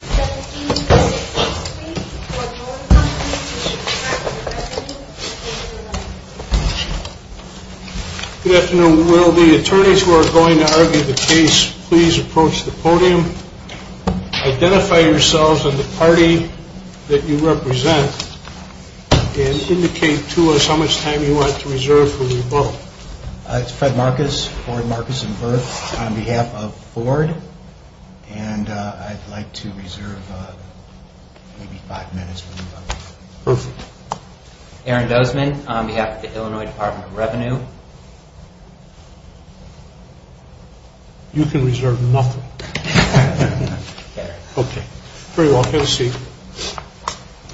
Good afternoon. Will the attorneys who are going to argue the case please approach the podium. Identify yourselves and the party that you represent and indicate to us how much time you want to reserve for your vote. It's Fred Marcus on behalf of Ford and I'd like to reserve maybe five minutes. Aaron Dozman on behalf of the Illinois Department of Revenue. You can reserve nothing. Okay. Very well. Have a seat.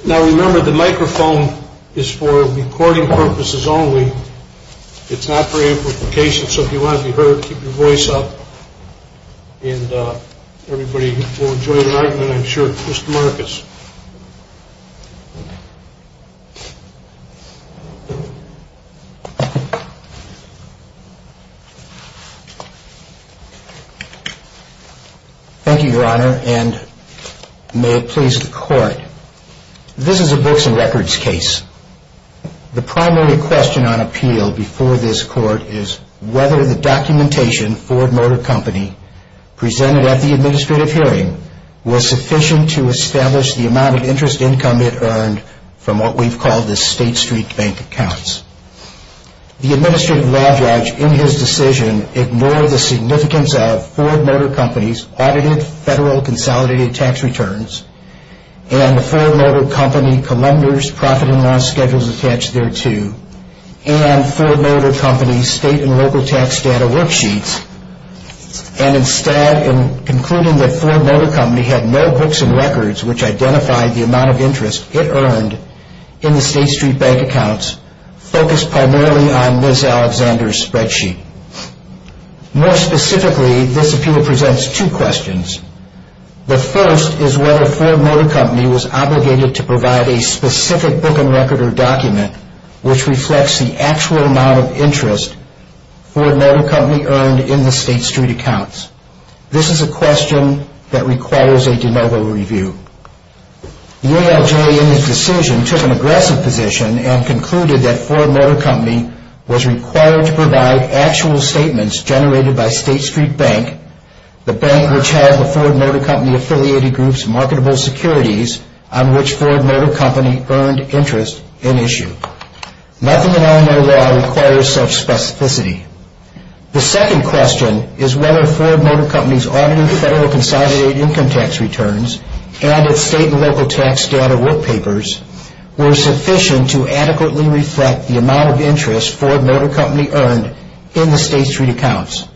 Now remember the microphone is for recording purposes only. It's not for amplification so if you want to be heard keep your voice up and everybody will enjoy the argument I'm sure. Mr. Marcus. Thank you your honor and may it please the court. This is a books and records case. The primary question on appeal before this court is whether the documentation Ford Motor Company presented at the administrative hearing was sufficient to establish the amount of interest income it earned from what we've called the State Street Bank accounts. The administrative law judge in his decision ignored the significance of Ford Motor Company's audited federal consolidated tax returns and the Ford Motor Company columnar's profit and loss schedules attached thereto and Ford Motor Company's state and local tax data worksheets and instead in concluding that Ford Motor Company had no books and records which identified the amount of interest it earned in the State Street Bank accounts. Focus primarily on Ms. Alexander's spreadsheet. More specifically this appeal presents two questions. The first is whether Ford Motor Company was obligated to provide a specific book and record or document which reflects the actual amount of interest Ford Motor Company earned in the State Street accounts. This is a question that requires a de novo review. The ALJ in its decision took an aggressive position and concluded that Ford Motor Company was required to provide actual statements generated by State Street Bank, the bank which had the Ford Motor Company affiliated groups marketable securities on which Ford Motor Company earned interest in issue. Nothing in our law requires such specificity. The second question is whether Ford Motor Company's audited federal consolidated income tax returns and its state and local tax data workpapers were sufficient to adequately reflect the amount of interest Ford Motor Company earned in the State Street accounts.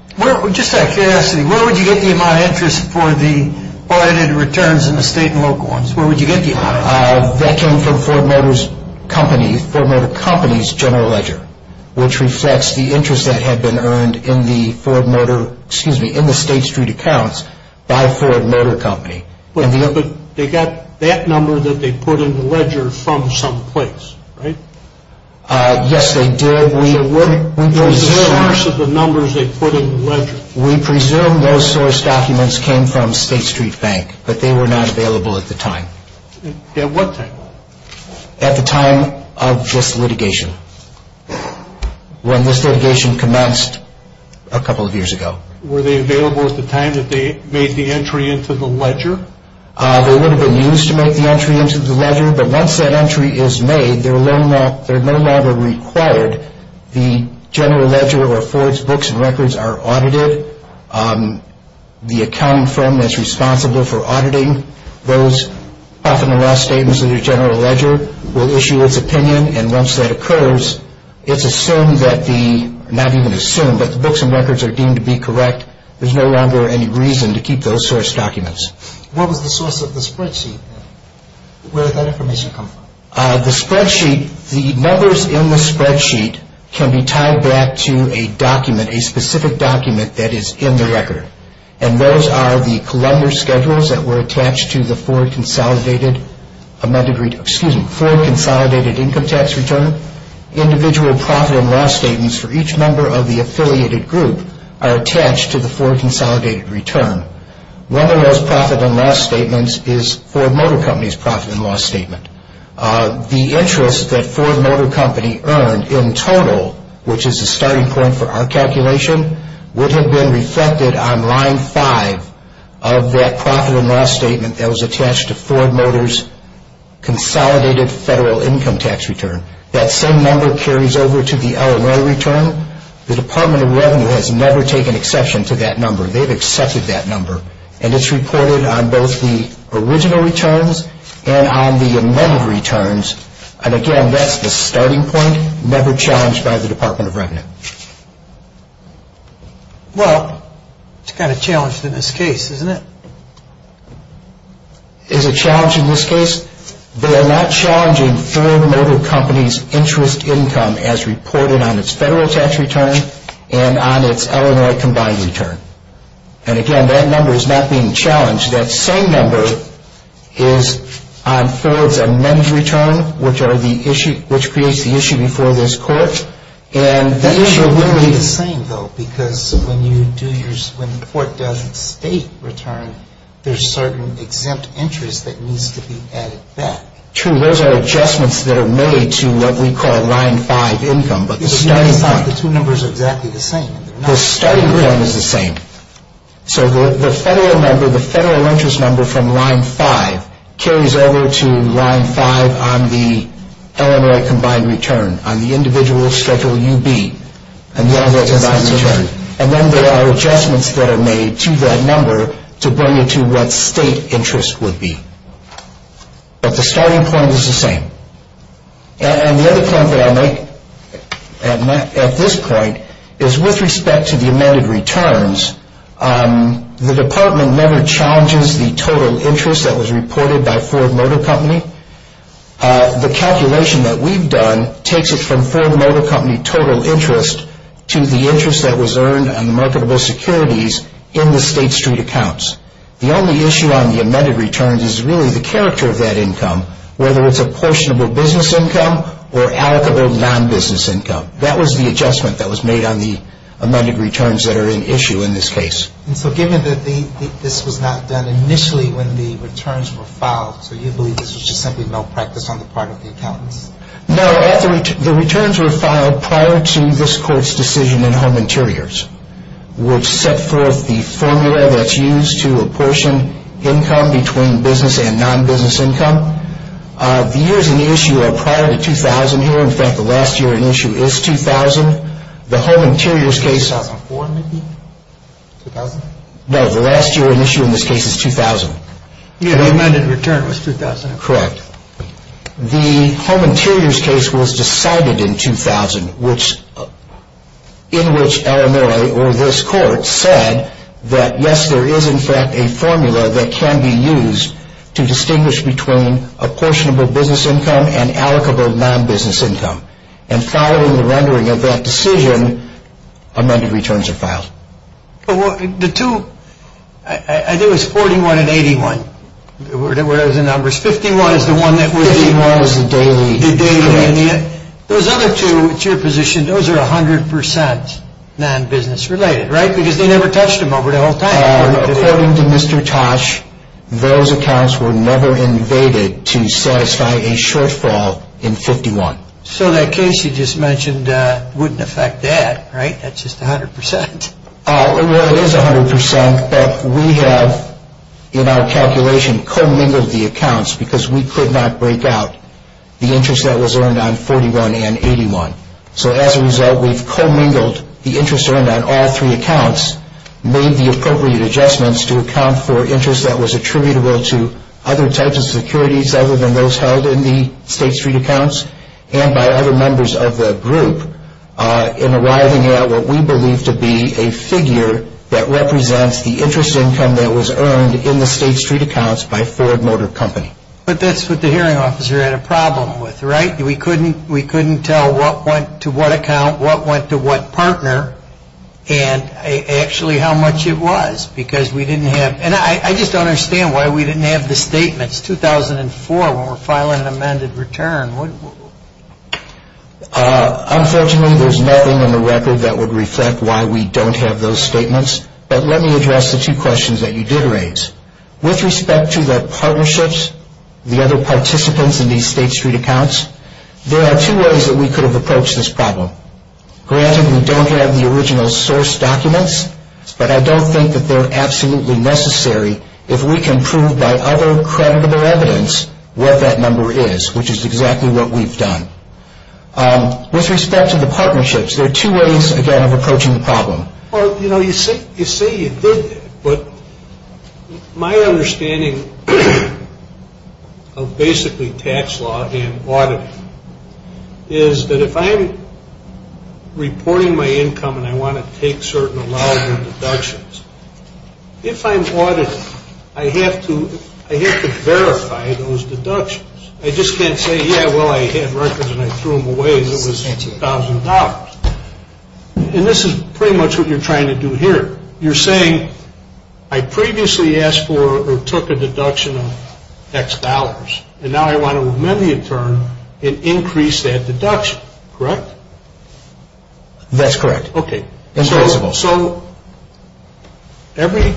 Just out of curiosity, where would you get the amount of interest for the audited returns in the state and local ones? That came from Ford Motor Company's general ledger, which reflects the interest that had been earned in the Ford Motor, excuse me, in the State Street accounts by Ford Motor Company. But they got that number that they put in the ledger from some place, right? Yes, they did. What was the source of the numbers they put in the ledger? We presume those source documents came from State Street Bank, but they were not available at the time. At what time? At the time of this litigation, when this litigation commenced a couple of years ago. Were they available at the time that they made the entry into the ledger? They would have been used to make the entry into the ledger, but once that entry is made, they're no longer required. The general ledger of Ford's books and records are audited. The accounting firm that's responsible for auditing those profit and loss statements of the general ledger will issue its opinion, and once that occurs, it's assumed that the, not even assumed, but the books and records are deemed to be correct. There's no longer any reason to keep those source documents. What was the source of the spreadsheet then? Where did that information come from? The spreadsheet, the numbers in the spreadsheet can be tied back to a document, a specific document that is in the record. And those are the Columbia schedules that were attached to the Ford Consolidated Amended, excuse me, Ford Consolidated Income Tax Return. Individual profit and loss statements for each member of the affiliated group are attached to the Ford Consolidated Return. One of those profit and loss statements is Ford Motor Company's profit and loss statement. The interest that Ford Motor Company earned in total, which is the starting point for our calculation, would have been reflected on line five of that profit and loss statement that was attached to Ford Motor's Consolidated Federal Income Tax Return. That same number carries over to the L&A return. The Department of Revenue has never taken exception to that number. They've accepted that number. And it's reported on both the original returns and on the amended returns. And again, that's the starting point, never challenged by the Department of Revenue. Well, it's kind of challenged in this case, isn't it? Is it challenged in this case? They are not challenging Ford Motor Company's interest income as reported on its federal tax return and on its L&A combined return. And again, that number is not being challenged. That same number is on Ford's amended return, which creates the issue before this court. Those are really the same, though, because when the court does its state return, there's certain exempt interest that needs to be added back. True. Those are adjustments that are made to what we call line five income. But the starting point. The two numbers are exactly the same. The starting point is the same. So the federal interest number from line five carries over to line five on the L&A combined return, on the individual Schedule UB and the L&A combined return. And then there are adjustments that are made to that number to bring it to what state interest would be. But the starting point is the same. And the other point that I'll make at this point is with respect to the amended returns, the department never challenges the total interest that was reported by Ford Motor Company. The calculation that we've done takes it from Ford Motor Company total interest to the interest that was earned on the marketable securities in the State Street accounts. The only issue on the amended returns is really the character of that income, whether it's apportionable business income or allocable non-business income. That was the adjustment that was made on the amended returns that are in issue in this case. And so given that this was not done initially when the returns were filed, so you believe this was just simply malpractice on the part of the accountants? No. The returns were filed prior to this Court's decision in Home Interiors, which set forth the formula that's used to apportion income between business and non-business income. The years in the issue are prior to 2000 here. In fact, the last year in issue is 2000. 2004 maybe? 2000? No, the last year in issue in this case is 2000. The amended return was 2000? Correct. The Home Interiors case was decided in 2000, in which Illinois or this Court said that yes, there is in fact a formula that can be used to distinguish between apportionable business income and allocable non-business income. And following the rendering of that decision, amended returns are filed. The two, I think it was 41 and 81 were the numbers. 51 is the one that was? 51 is the daily. The daily. Those other two, it's your position, those are 100% non-business related, right? Because they never touched them over the whole time. According to Mr. Tosh, those accounts were never invaded to satisfy a shortfall in 51. So that case you just mentioned wouldn't affect that, right? That's just 100%. Well, it is 100%, but we have, in our calculation, commingled the accounts because we could not break out the interest that was earned on 41 and 81. So as a result, we've commingled the interest earned on all three accounts, made the appropriate adjustments to account for interest that was attributable to other types of securities other than those held in the State Street accounts and by other members of the group in arriving at what we believe to be a figure that represents the interest income that was earned in the State Street accounts by Ford Motor Company. But that's what the hearing officer had a problem with, right? We couldn't tell what went to what account, what went to what partner, and actually how much it was because we didn't have, And I just don't understand why we didn't have the statements, 2004, when we're filing an amended return. Unfortunately, there's nothing in the record that would reflect why we don't have those statements. But let me address the two questions that you did raise. With respect to the partnerships, the other participants in these State Street accounts, there are two ways that we could have approached this problem. Granted, we don't have the original source documents, but I don't think that they're absolutely necessary if we can prove by other creditable evidence what that number is, which is exactly what we've done. With respect to the partnerships, there are two ways, again, of approaching the problem. Well, you know, you say you did that, but my understanding of basically tax law and auditing is that if I'm reporting my income and I want to take certain allowable deductions, if I'm auditing, I have to verify those deductions. I just can't say, yeah, well, I had records and I threw them away and it was $1,000. And this is pretty much what you're trying to do here. You're saying, I previously asked for or took a deduction of X dollars, and now I want to amend the term and increase that deduction, correct? That's correct. Okay. So every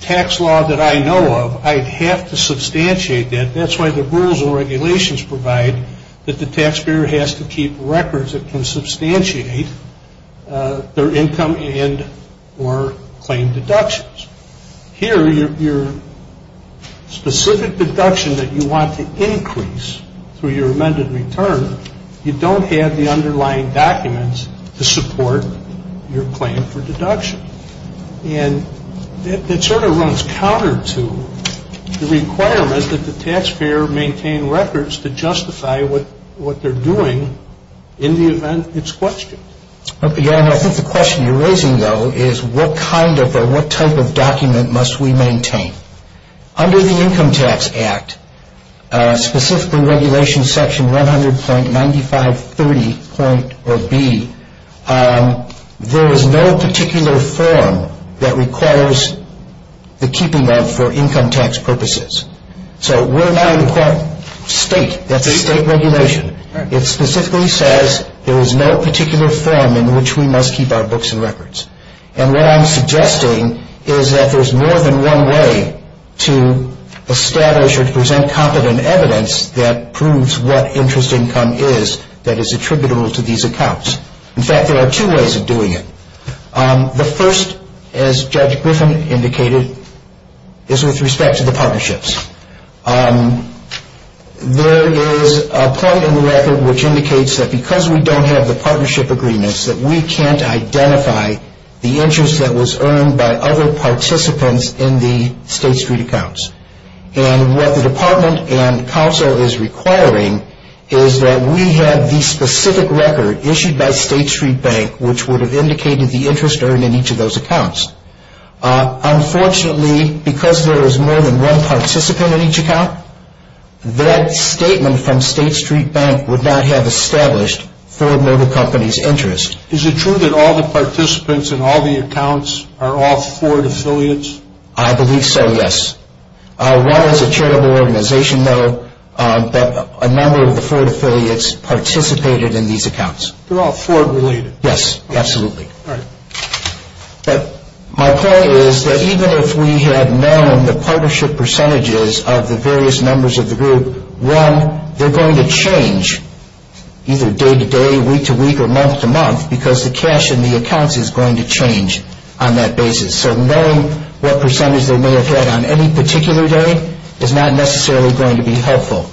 tax law that I know of, I'd have to substantiate that. That's why the rules and regulations provide that the taxpayer has to keep records that can substantiate their income and or claim deductions. Here, your specific deduction that you want to increase through your amended return, you don't have the underlying documents to support your claim for deduction. And that sort of runs counter to the requirement that the taxpayer maintain records to justify what they're doing in the event it's questioned. I think the question you're raising, though, is what kind of or what type of document must we maintain? Under the Income Tax Act, specifically Regulation Section 100.9530.B, there is no particular form that requires the keeping of for income tax purposes. So we're not requiring state, that's a state regulation. It specifically says there is no particular form in which we must keep our books and records. And what I'm suggesting is that there's more than one way to establish or to present competent evidence that proves what interest income is that is attributable to these accounts. In fact, there are two ways of doing it. The first, as Judge Griffin indicated, is with respect to the partnerships. There is a point in the record which indicates that because we don't have the partnership agreements, that we can't identify the interest that was earned by other participants in the State Street accounts. And what the department and council is requiring is that we have the specific record issued by State Street Bank, which would have indicated the interest earned in each of those accounts. Unfortunately, because there is more than one participant in each account, that statement from State Street Bank would not have established Ford Motor Company's interest. Is it true that all the participants in all the accounts are all Ford affiliates? I believe so, yes. One is a charitable organization, though, that a number of the Ford affiliates participated in these accounts. They're all Ford related? Yes, absolutely. All right. My point is that even if we had known the partnership percentages of the various members of the group, one, they're going to change either day to day, week to week, or month to month, because the cash in the accounts is going to change on that basis. So knowing what percentage they may have had on any particular day is not necessarily going to be helpful.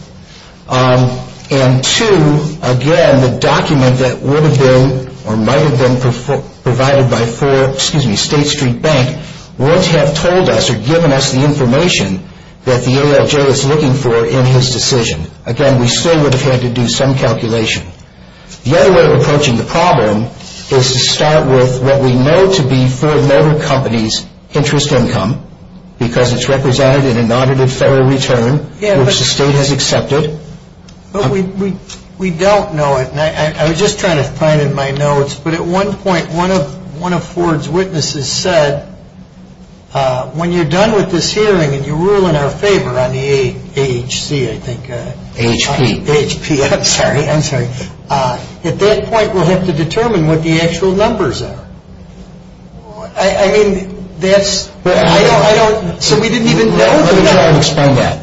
And two, again, the document that would have been or might have been provided by State Street Bank would have told us or given us the information that the ALJ was looking for in his decision. Again, we still would have had to do some calculation. The other way of approaching the problem is to start with what we know to be Ford Motor Company's interest income, because it's represented in an audited federal return, which the state has accepted. We don't know it, and I was just trying to find in my notes, but at one point one of Ford's witnesses said, when you're done with this hearing and you rule in our favor on the AHC, I think. AHP. AHP, I'm sorry. I'm sorry. At that point, we'll have to determine what the actual numbers are. I mean, that's... I don't... So we didn't even know... Let me try and explain that.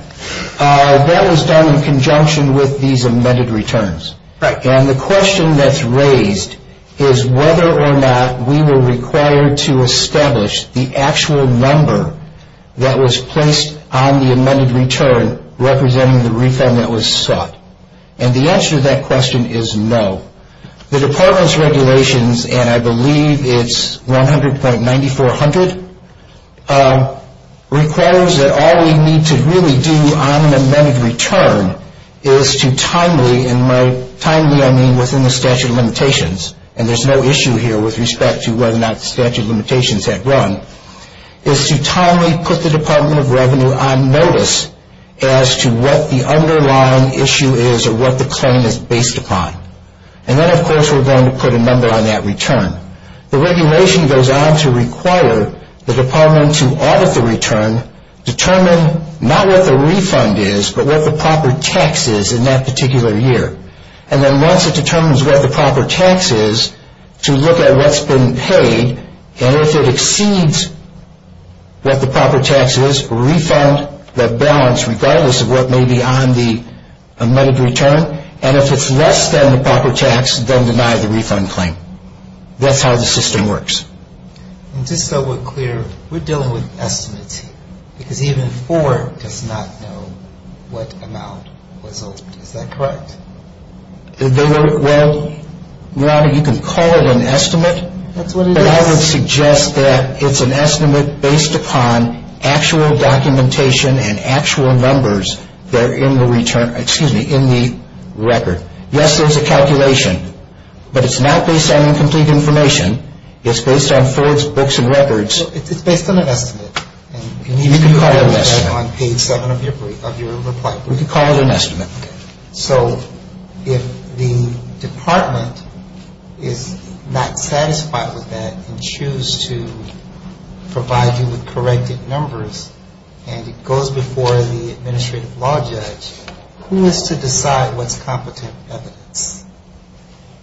That was done in conjunction with these amended returns. Right. And the question that's raised is whether or not we were required to establish the actual number that was placed on the amended return representing the refund that was sought. And the answer to that question is no. The Department's regulations, and I believe it's 100.9400, requires that all we need to really do on an amended return is to timely, and by timely I mean within the statute of limitations, and there's no issue here with respect to whether or not the statute of limitations had run, is to timely put the Department of Revenue on notice as to what the underlying issue is or what the claim is based upon. And then, of course, we're going to put a number on that return. The regulation goes on to require the Department to audit the return, determine not what the refund is, but what the proper tax is in that particular year. And then once it determines what the proper tax is, to look at what's been paid, and if it exceeds what the proper tax is, refund the balance regardless of what may be on the amended return, and if it's less than the proper tax, then deny the refund claim. That's how the system works. And just so we're clear, we're dealing with estimates here, because even four does not know what amount was owed. Is that correct? Well, you can call it an estimate. That's what it is? I would suggest that it's an estimate based upon actual documentation and actual numbers that are in the return, excuse me, in the record. Yes, there's a calculation, but it's not based on incomplete information. It's based on forwards, books, and records. It's based on an estimate. You can call it an estimate. On page 7 of your reply. We can call it an estimate. So if the department is not satisfied with that and choose to provide you with corrected numbers and it goes before the administrative law judge, who is to decide what's competent evidence?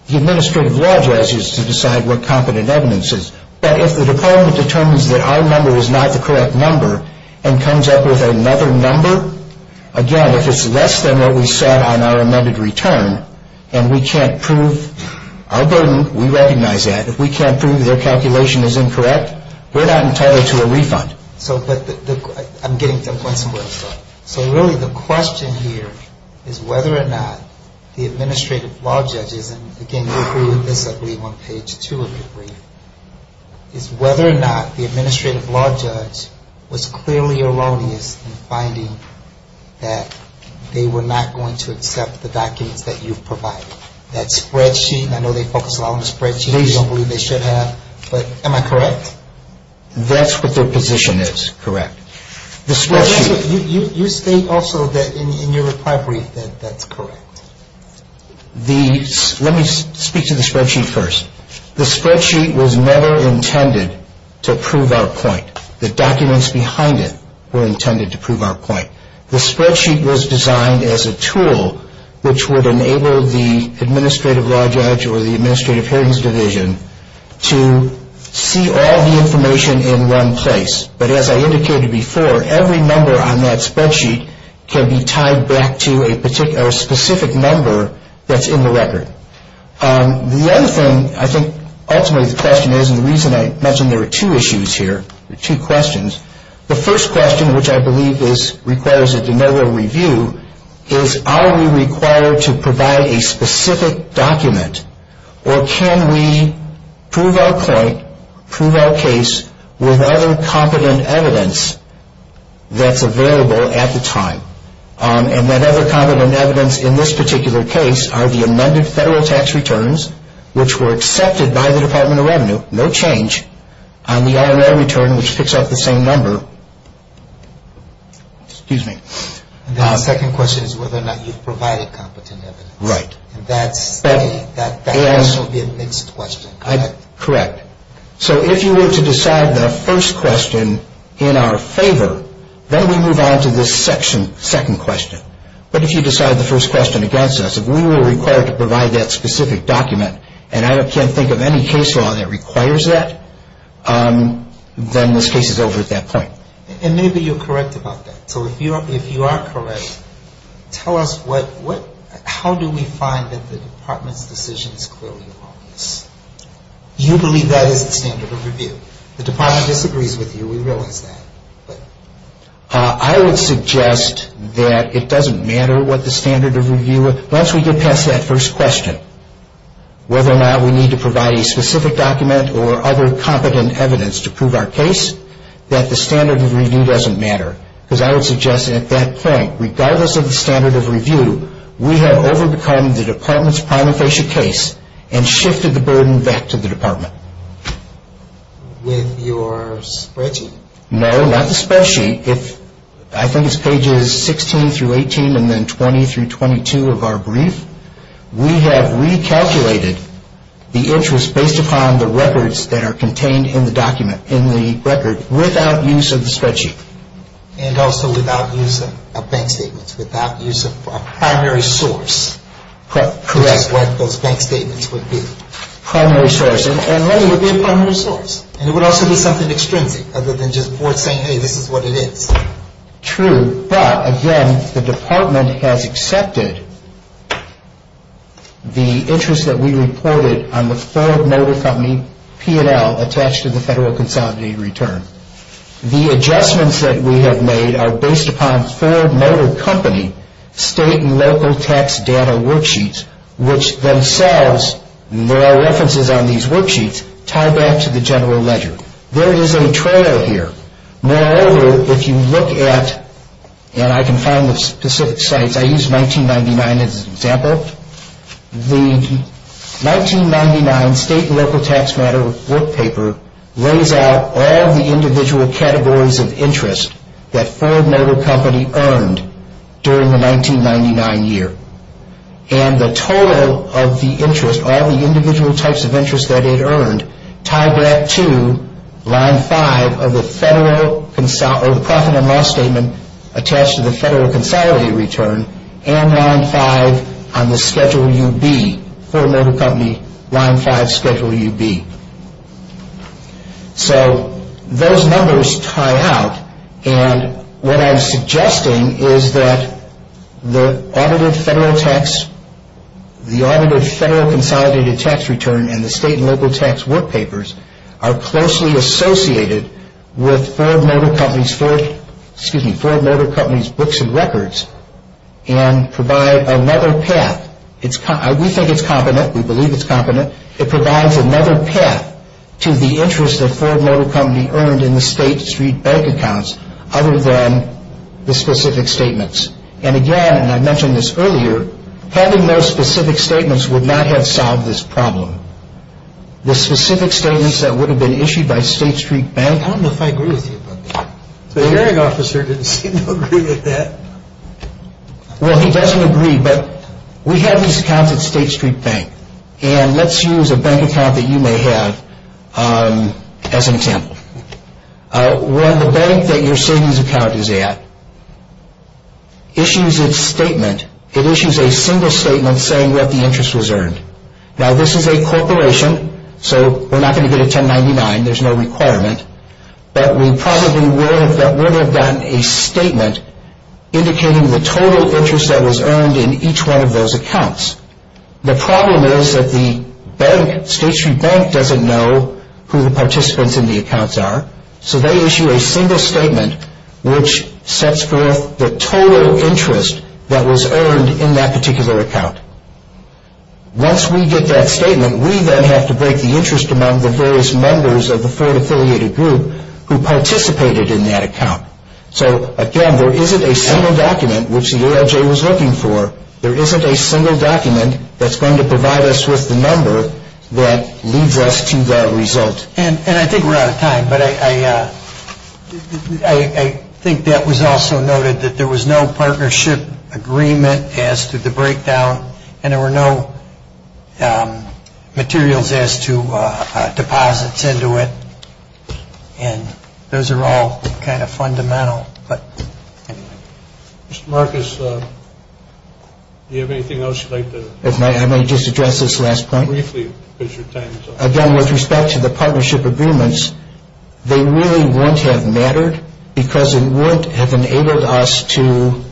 The administrative law judge is to decide what competent evidence is. But if the department determines that our number is not the correct number and comes up with another number, again, if it's less than what we set on our amended return and we can't prove our burden, we recognize that. If we can't prove their calculation is incorrect, we're not entitled to a refund. I'm getting to a point somewhere. So really the question here is whether or not the administrative law judge is, and again, you agree with this, I believe, on page 2 of your brief, is whether or not the administrative law judge was clearly erroneous in finding that they were not going to accept the documents that you've provided. That spreadsheet, I know they focus a lot on the spreadsheet. They don't believe they should have. But am I correct? That's what their position is, correct. You state also that in your reply brief that that's correct. Let me speak to the spreadsheet first. The spreadsheet was never intended to prove our point. The documents behind it were intended to prove our point. The spreadsheet was designed as a tool which would enable the administrative law judge or the administrative hearings division to see all the information in one place. But as I indicated before, every number on that spreadsheet can be tied back to a specific number that's in the record. The other thing, I think, ultimately the question is, and the reason I mention there are two issues here, two questions. The first question, which I believe requires a de novo review, is are we required to provide a specific document, or can we prove our point, prove our case, with other competent evidence that's available at the time? And that other competent evidence in this particular case are the amended federal tax returns, which were accepted by the Department of Revenue, no change, and the R&L return, which picks up the same number. Excuse me. The second question is whether or not you've provided competent evidence. Right. That question will be a mixed question, correct? Correct. So if you were to decide the first question in our favor, then we move on to this second question. But if you decide the first question against us, if we were required to provide that specific document, and I can't think of any case law that requires that, then this case is over at that point. And maybe you're correct about that. So if you are correct, tell us how do we find that the Department's decision is clearly obvious? You believe that is the standard of review. The Department disagrees with you, we realize that. I would suggest that it doesn't matter what the standard of review is. Once we get past that first question, whether or not we need to provide a specific document or other competent evidence to prove our case, that the standard of review doesn't matter. Because I would suggest at that point, regardless of the standard of review, we have overcome the Department's prima facie case and shifted the burden back to the Department. With your spreadsheet? No, not the spreadsheet. I think it's pages 16 through 18 and then 20 through 22 of our brief. We have recalculated the interest based upon the records that are contained in the document, in the record, without use of the spreadsheet. And also without use of bank statements, without use of a primary source. Correct. Which is what those bank statements would be. Primary source. And money would be a primary source. And it would also be something extrinsic, other than just saying, hey, this is what it is. True, but again, the Department has accepted the interest that we reported on the Ford Motor Company P&L attached to the Federal Consolidated Return. The adjustments that we have made are based upon Ford Motor Company state and local tax data worksheets, which themselves, there are references on these worksheets, tie back to the general ledger. There is a trail here. Moreover, if you look at, and I can find the specific sites, I used 1999 as an example. The 1999 state and local tax matter work paper lays out all the individual categories of interest that Ford Motor Company earned during the 1999 year. And the total of the interest, all the individual types of interest that it earned, tie back to line five of the Federal, or the Profit and Loss Statement attached to the Federal Consolidated Return, and line five on the Schedule UB. Ford Motor Company, line five, Schedule UB. So, those numbers tie out, and what I'm suggesting is that the audited Federal tax, the audited Federal Consolidated Tax Return and the state and local tax work papers are closely associated with Ford Motor Company's, excuse me, Ford Motor Company's books and records, and provide another path. We think it's competent, we believe it's competent. It provides another path to the interest that Ford Motor Company earned in the State Street Bank accounts, other than the specific statements. And again, and I mentioned this earlier, having those specific statements would not have solved this problem. The specific statements that would have been issued by State Street Bank... I don't know if I agree with you about that. The hearing officer didn't seem to agree with that. Well, he doesn't agree, but we have these accounts at State Street Bank, and let's use a bank account that you may have as an example. When the bank that you're saying this account is at issues its statement, it issues a single statement saying what the interest was earned. Now, this is a corporation, so we're not going to go to 1099, there's no requirement, but we probably would have gotten a statement indicating the total interest that was earned in each one of those accounts. The problem is that the bank, State Street Bank, doesn't know who the participants in the accounts are, so they issue a single statement which sets forth the total interest that was earned in that particular account. Once we get that statement, we then have to break the interest among the various members of the Ford-affiliated group who participated in that account. So, again, there isn't a single document which the ALJ was looking for. There isn't a single document that's going to provide us with the number that leads us to the result. And I think we're out of time, but I think that was also noted, that there was no partnership agreement as to the breakdown, and there were no materials as to deposits into it. And those are all kind of fundamental. Mr. Marcus, do you have anything else you'd like to add? If I may just address this last point. Briefly, because your time is up. Again, with respect to the partnership agreements, they really wouldn't have mattered because it wouldn't have enabled us to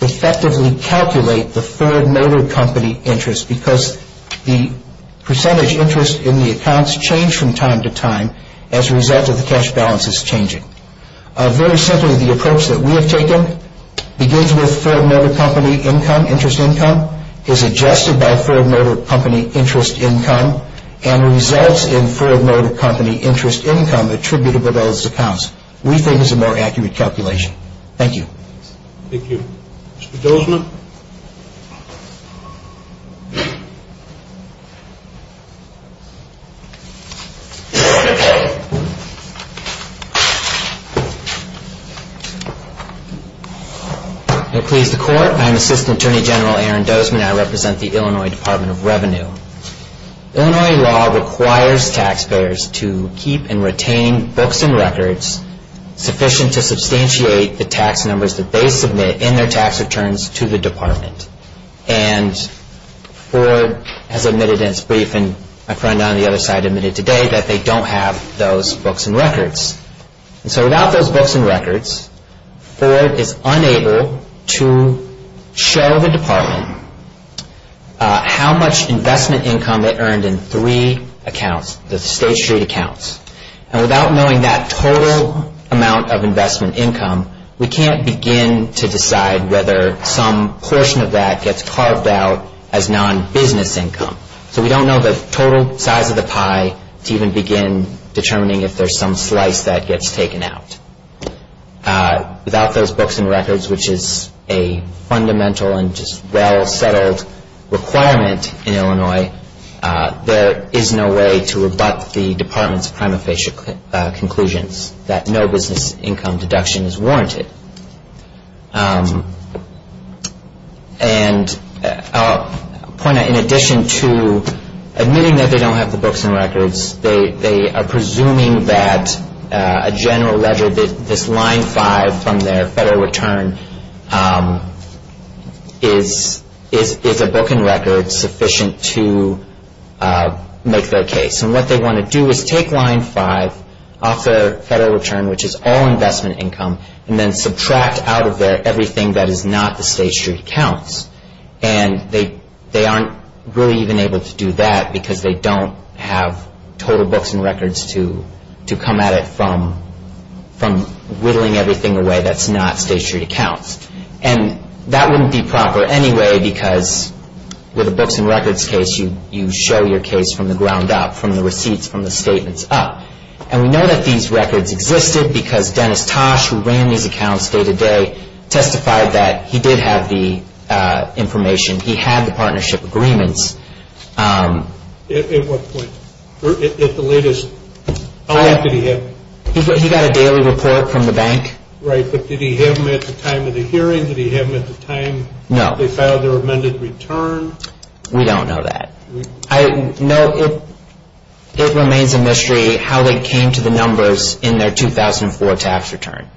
effectively calculate the Ford Motor Company interest because the percentage interest in the accounts changed from time to time as a result of the cash balances changing. Very simply, the approach that we have taken begins with Ford Motor Company interest income, is adjusted by Ford Motor Company interest income, and results in Ford Motor Company interest income attributable to those accounts. We think it's a more accurate calculation. Thank you. Mr. Dozman. Please, the Court. I'm Assistant Attorney General Aaron Dozman. I represent the Illinois Department of Revenue. Illinois law requires taxpayers to keep and retain books and records sufficient to substantiate the tax numbers that they submit in their tax returns to the department. And Ford has admitted in its briefing, a friend on the other side admitted today, that they don't have those books and records. So without those books and records, Ford is unable to show the department how much investment income they earned in three accounts, the State Street accounts. And without knowing that total amount of investment income, we can't begin to decide whether some portion of that gets carved out as non-business income. So we don't know the total size of the pie to even begin determining if there's some slice that gets taken out. Without those books and records, which is a fundamental and just well-settled requirement in Illinois, there is no way to rebut the department's prima facie conclusions that no business income deduction is warranted. And I'll point out, in addition to admitting that they don't have the books and records, they are presuming that a general ledger, this Line 5 from their federal return, is a book and record sufficient to make their case. And what they want to do is take Line 5 off their federal return, which is all investment income, and then subtract out of there everything that is not the State Street accounts. And they aren't really even able to do that because they don't have total books and records to come at it from whittling everything away that's not State Street accounts. And that wouldn't be proper anyway because with a books and records case you show your case from the ground up, from the receipts, from the statements up. And we know that these records existed because Dennis Tosh, who ran these accounts day to day, testified that he did have the information. He had the partnership agreements. At what point? At the latest, how long did he have them? He got a daily report from the bank. Right, but did he have them at the time of the hearing? Did he have them at the time they filed their amended return? We don't know that. No, it remains a mystery how they came to the numbers in their 2004 tax return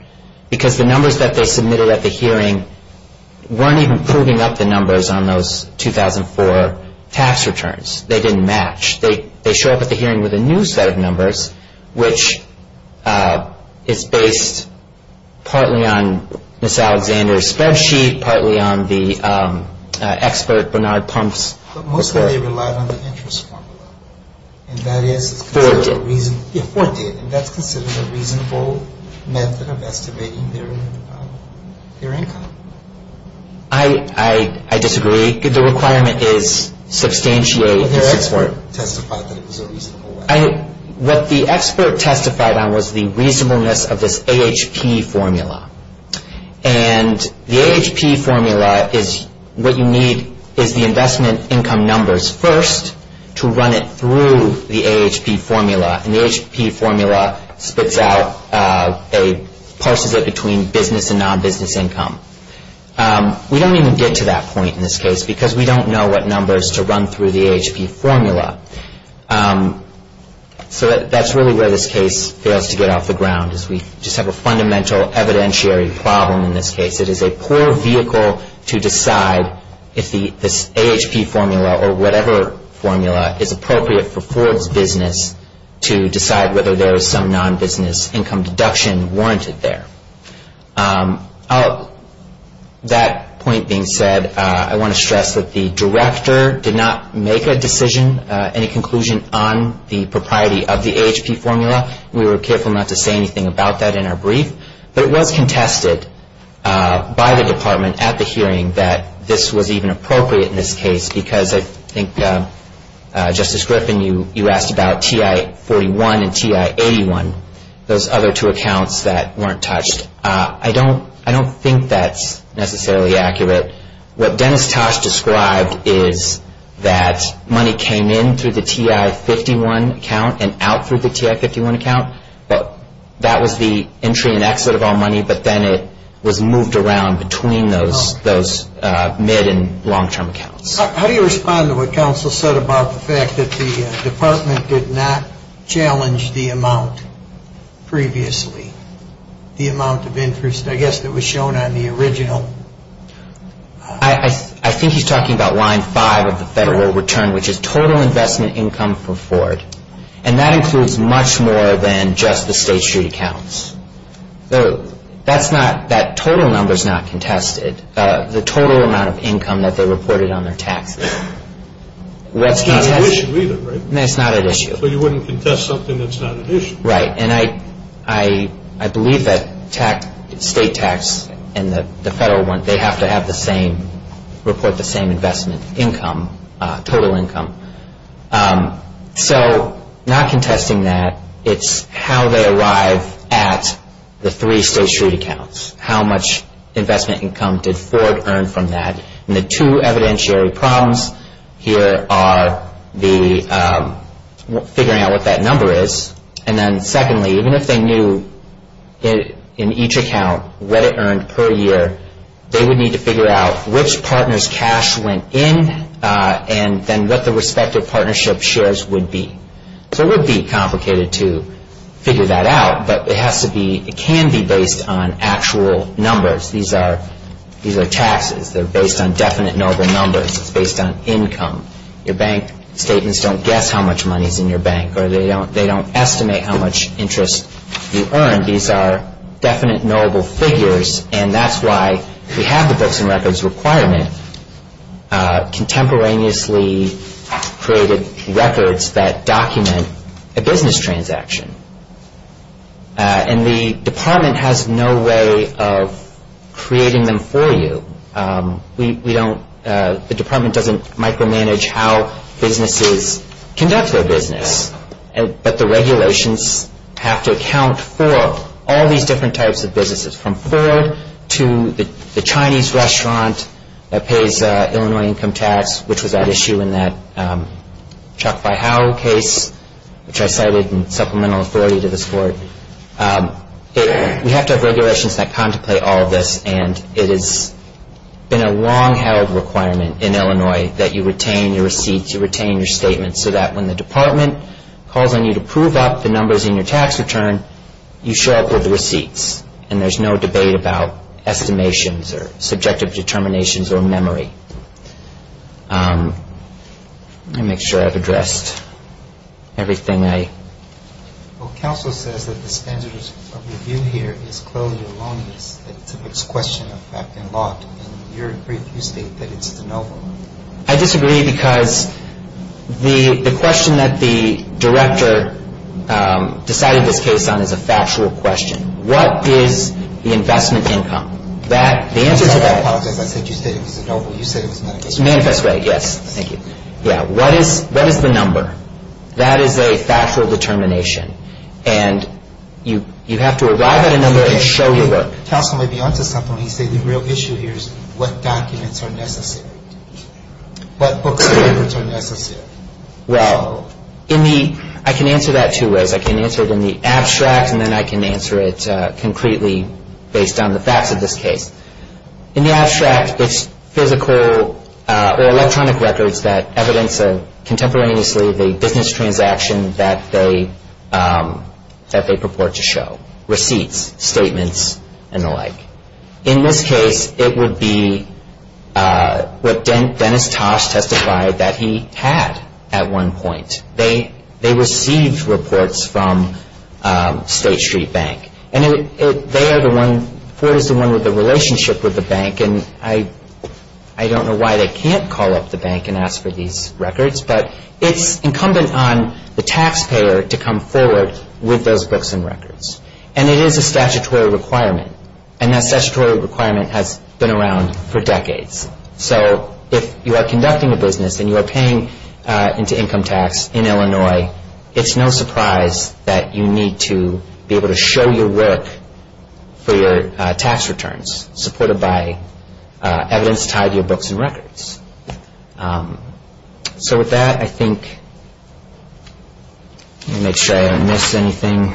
because the numbers that they submitted at the hearing weren't even proving up the numbers on those 2004 tax returns. They didn't match. They show up at the hearing with a new set of numbers, which is based partly on Ms. Alexander's spreadsheet, partly on the expert Bernard Pumph's report. But mostly they relied on the interest formula. And that is considered a reasonable method of estimating their income. I disagree. The requirement is substantiate. But their expert testified that it was a reasonable way. What the expert testified on was the reasonableness of this AHP formula. And the AHP formula is what you need is the investment income numbers first to run it through the AHP formula. And the AHP formula spits out a, parses it between business and non-business income. We don't even get to that point in this case because we don't know what numbers to run through the AHP formula. So that's really where this case fails to get off the ground is we just have a fundamental evidentiary problem in this case. It is a poor vehicle to decide if the AHP formula or whatever formula is appropriate for Ford's business to decide whether there is some non-business income deduction warranted there. That point being said, I want to stress that the director did not make a decision, any conclusion on the propriety of the AHP formula. We were careful not to say anything about that in our brief. But it was contested by the department at the hearing that this was even appropriate in this case because I think Justice Griffin, you asked about TI-41 and TI-81, those other two accounts that weren't touched. I don't think that's necessarily accurate. What Dennis Tosh described is that money came in through the TI-51 account and out through the TI-51 account, but that was the entry and exit of all money, but then it was moved around between those mid- and long-term accounts. How do you respond to what counsel said about the fact that the department did not challenge the amount previously, the amount of interest, I guess, that was shown on the original? I think he's talking about line five of the federal return, which is total investment income for Ford. And that includes much more than just the State Street accounts. That total number is not contested. The total amount of income that they reported on their taxes. That's not an issue either, right? It's not an issue. So you wouldn't contest something that's not an issue. Right. And I believe that state tax and the federal one, they have to report the same investment income, total income. So not contesting that, it's how they arrive at the three State Street accounts. How much investment income did Ford earn from that? And the two evidentiary problems here are figuring out what that number is, and then secondly, even if they knew in each account what it earned per year, they would need to figure out which partners' cash went in and then what the respective partnership shares would be. So it would be complicated to figure that out, but it has to be, it can be based on actual numbers. These are taxes. They're based on definite knowable numbers. It's based on income. Your bank statements don't guess how much money is in your bank or they don't estimate how much interest you earned. These are definite knowable figures, and that's why we have the books and records requirement, contemporaneously created records that document a business transaction. And the department has no way of creating them for you. We don't, the department doesn't micromanage how businesses conduct their business, but the regulations have to account for all these different types of businesses from Ford to the Chinese restaurant that pays Illinois income tax, which was at issue in that Chuck Vihau case, which I cited in supplemental authority to this court. We have to have regulations that contemplate all of this, and it has been a long-held requirement in Illinois that you retain your receipts, you retain your statements, so that when the department calls on you to prove up the numbers in your tax return, you show up with the receipts, and there's no debate about estimations or subjective determinations or memory. Let me make sure I've addressed everything I... Well, counsel says that the standards of review here is clearly wrong. It's a question of fact and law. And in your brief, you state that it's de novo. I disagree because the question that the director decided this case on is a factual question. What is the investment income? The answer to that... I apologize. I said you said it was de novo. You said it was manifest rate. Manifest rate, yes. Thank you. Yeah. What is the number? That is a factual determination, and you have to arrive at a number and show your work. Counsel may be on to something when you say the real issue here is what documents are necessary. What books and papers are necessary? Well, in the... I can answer that two ways. I can answer it in the abstract, and then I can answer it concretely based on the facts of this case. In the abstract, it's physical or electronic records that evidence contemporaneously the business transaction that they purport to show. Receipts, statements, and the like. In this case, it would be what Dennis Tosh testified that he had at one point. They received reports from State Street Bank, and they are the one... Ford is the one with the relationship with the bank, and I don't know why they can't call up the bank and ask for these records, but it's incumbent on the taxpayer to come forward with those books and records, and it is a statutory requirement, and that statutory requirement has been around for decades. So if you are conducting a business and you are paying into income tax in Illinois, it's no surprise that you need to be able to show your work for your tax returns supported by evidence tied to your books and records. So with that, I think... Let me make sure I don't miss anything.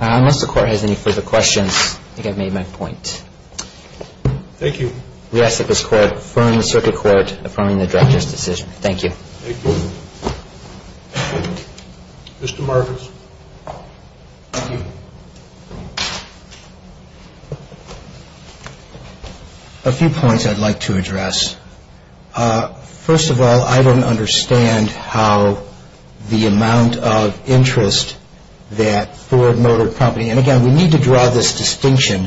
Unless the Court has any further questions, I think I've made my point. Thank you. We ask that this Court affirm the Circuit Court affirming the Director's decision. Thank you. Thank you. Mr. Marcus. Thank you. A few points I'd like to address. First of all, I don't understand how the amount of interest that Ford Motor Company... And again, we need to draw this distinction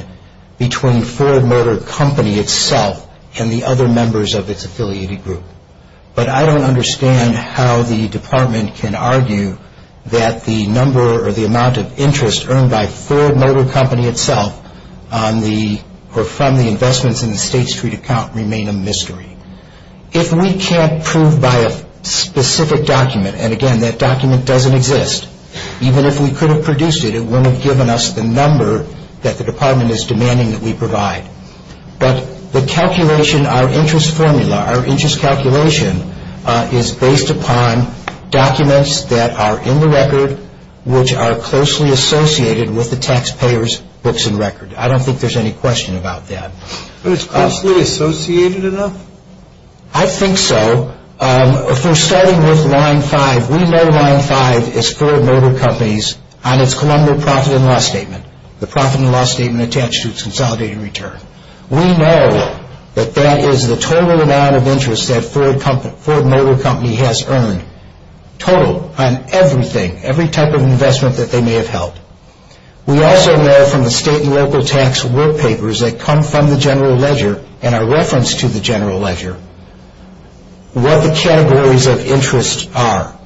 between Ford Motor Company itself and the other members of its affiliated group. But I don't understand how the Department can argue that the number or the amount of interest earned by Ford Motor Company itself or from the investments in the State Street account remain a mystery. If we can't prove by a specific document, and again, that document doesn't exist, even if we could have produced it, it wouldn't have given us the number that the Department is demanding that we provide. But the calculation, our interest formula, our interest calculation, is based upon documents that are in the record, which are closely associated with the taxpayer's books and record. I don't think there's any question about that. But it's closely associated enough? I think so. For starting with Line 5, we know Line 5 is Ford Motor Company's on its Columbia Profit and Loss Statement. The Profit and Loss Statement attached to its consolidated return. We know that that is the total amount of interest that Ford Motor Company has earned. Total on everything, every type of investment that they may have held. We also know from the State and local tax work papers that come from the general ledger and are referenced to the general ledger what the categories of interest are.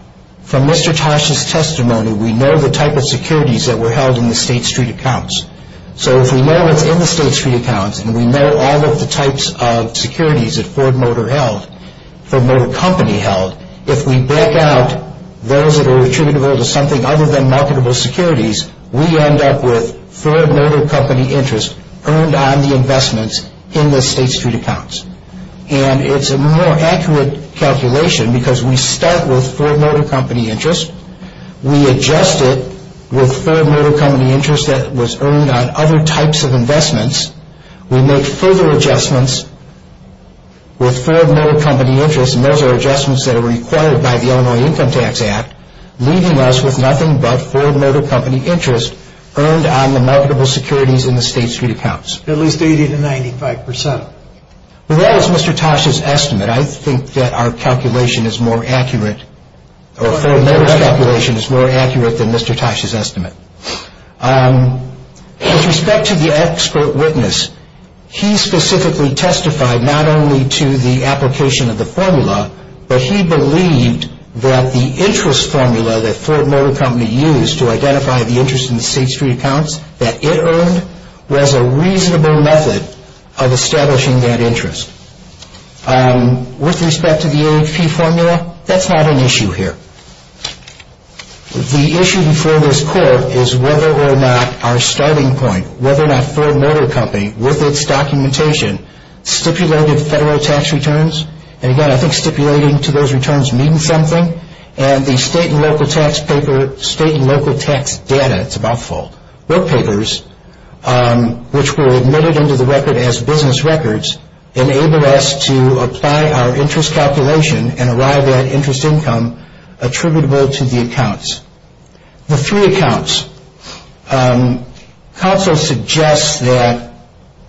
From Mr. Tosh's testimony, we know the type of securities that were held in the State Street accounts. So if we know what's in the State Street accounts, and we know all of the types of securities that Ford Motor Company held, if we break out those that are attributable to something other than marketable securities, we end up with Ford Motor Company interest earned on the investments in the State Street accounts. And it's a more accurate calculation because we start with Ford Motor Company interest, we adjust it with Ford Motor Company interest that was earned on other types of investments, we make further adjustments with Ford Motor Company interest, and those are adjustments that are required by the Illinois Income Tax Act, leaving us with nothing but Ford Motor Company interest earned on the marketable securities in the State Street accounts. At least 80 to 95 percent. Well, that is Mr. Tosh's estimate. I think that our calculation is more accurate, or Ford Motor's calculation is more accurate than Mr. Tosh's estimate. With respect to the expert witness, he specifically testified not only to the application of the formula, but he believed that the interest formula that Ford Motor Company used to identify the interest in the State Street accounts that it earned was a reasonable method of establishing that interest. With respect to the AHP formula, that's not an issue here. The issue before this court is whether or not our starting point, whether or not Ford Motor Company, with its documentation, stipulated federal tax returns, and again, I think stipulating to those returns means something, and the state and local tax paper, state and local tax data, it's about full, book papers, which were admitted into the record as business records, enabled us to apply our interest calculation and arrive at interest income attributable to the accounts. The three accounts. Counsel suggests that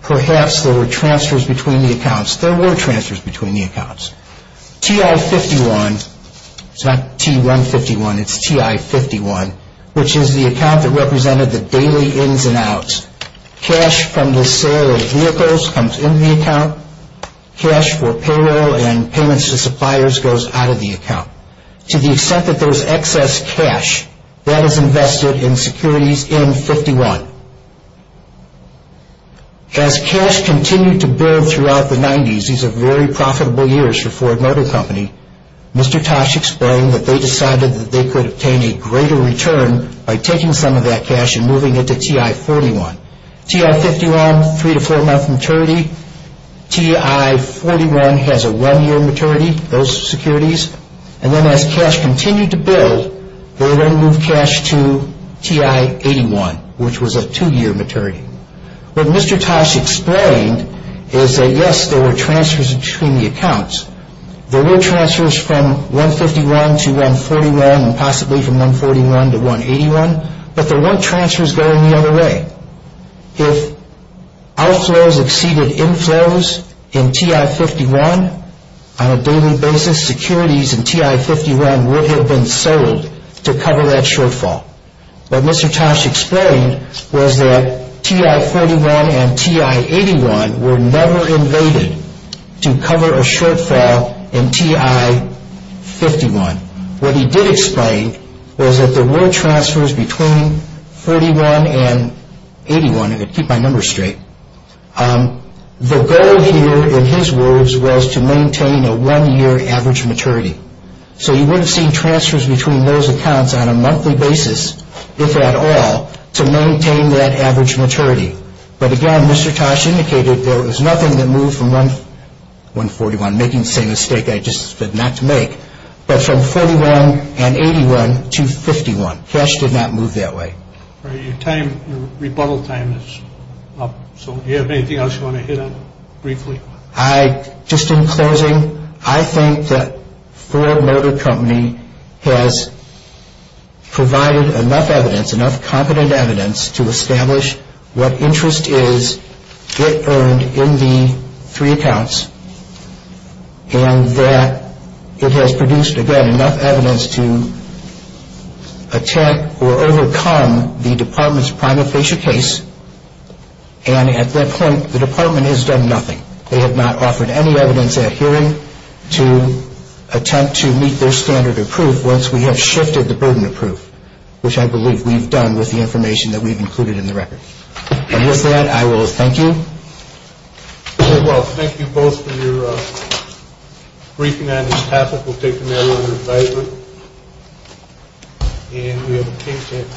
perhaps there were transfers between the accounts. There were transfers between the accounts. TI-51, it's not T1-51, it's TI-51, which is the account that represented the daily ins and outs. Cash from the sale of vehicles comes in the account. Cash for payroll and payments to suppliers goes out of the account. To the extent that there's excess cash, that is invested in securities in 51. As cash continued to build throughout the 90s, these are very profitable years for Ford Motor Company, Mr. Tosh explained that they decided that they could obtain a greater return by taking some of that cash and moving it to TI-41. TI-51, three to four month maturity, TI-41 has a one year maturity, those securities, and then as cash continued to build, they then moved cash to TI-81, which was a two year maturity. What Mr. Tosh explained is that, yes, there were transfers between the accounts. There were transfers from 151 to 141 and possibly from 141 to 181, but there weren't transfers going the other way. If outflows exceeded inflows in TI-51 on a daily basis, securities in TI-51 would have been sold to cover that shortfall. What Mr. Tosh explained was that TI-41 and TI-81 were never invaded to cover a shortfall in TI-51. What he did explain was that there were transfers between 41 and 81, and to keep my numbers straight, the goal here in his words was to maintain a one year average maturity. So you would have seen transfers between those accounts on a monthly basis, if at all, to maintain that average maturity. But again, Mr. Tosh indicated there was nothing that moved from 141, I'm making the same mistake I just said not to make, but from 41 and 81 to 51. Cash did not move that way. Your rebuttal time is up. Do you have anything else you want to hit on briefly? Just in closing, I think that Ford Motor Company has provided enough evidence, to establish what interest is earned in the three accounts, and that it has produced enough evidence to attempt or overcome the department's prima facie case, and at that point the department has done nothing. They have not offered any evidence at hearing to attempt to meet their standard of proof once we have shifted the burden of proof, which I believe we've done with the information that we've included in the record. With that, I will thank you. Thank you both for your briefing on this topic. We'll take the matter under advisement.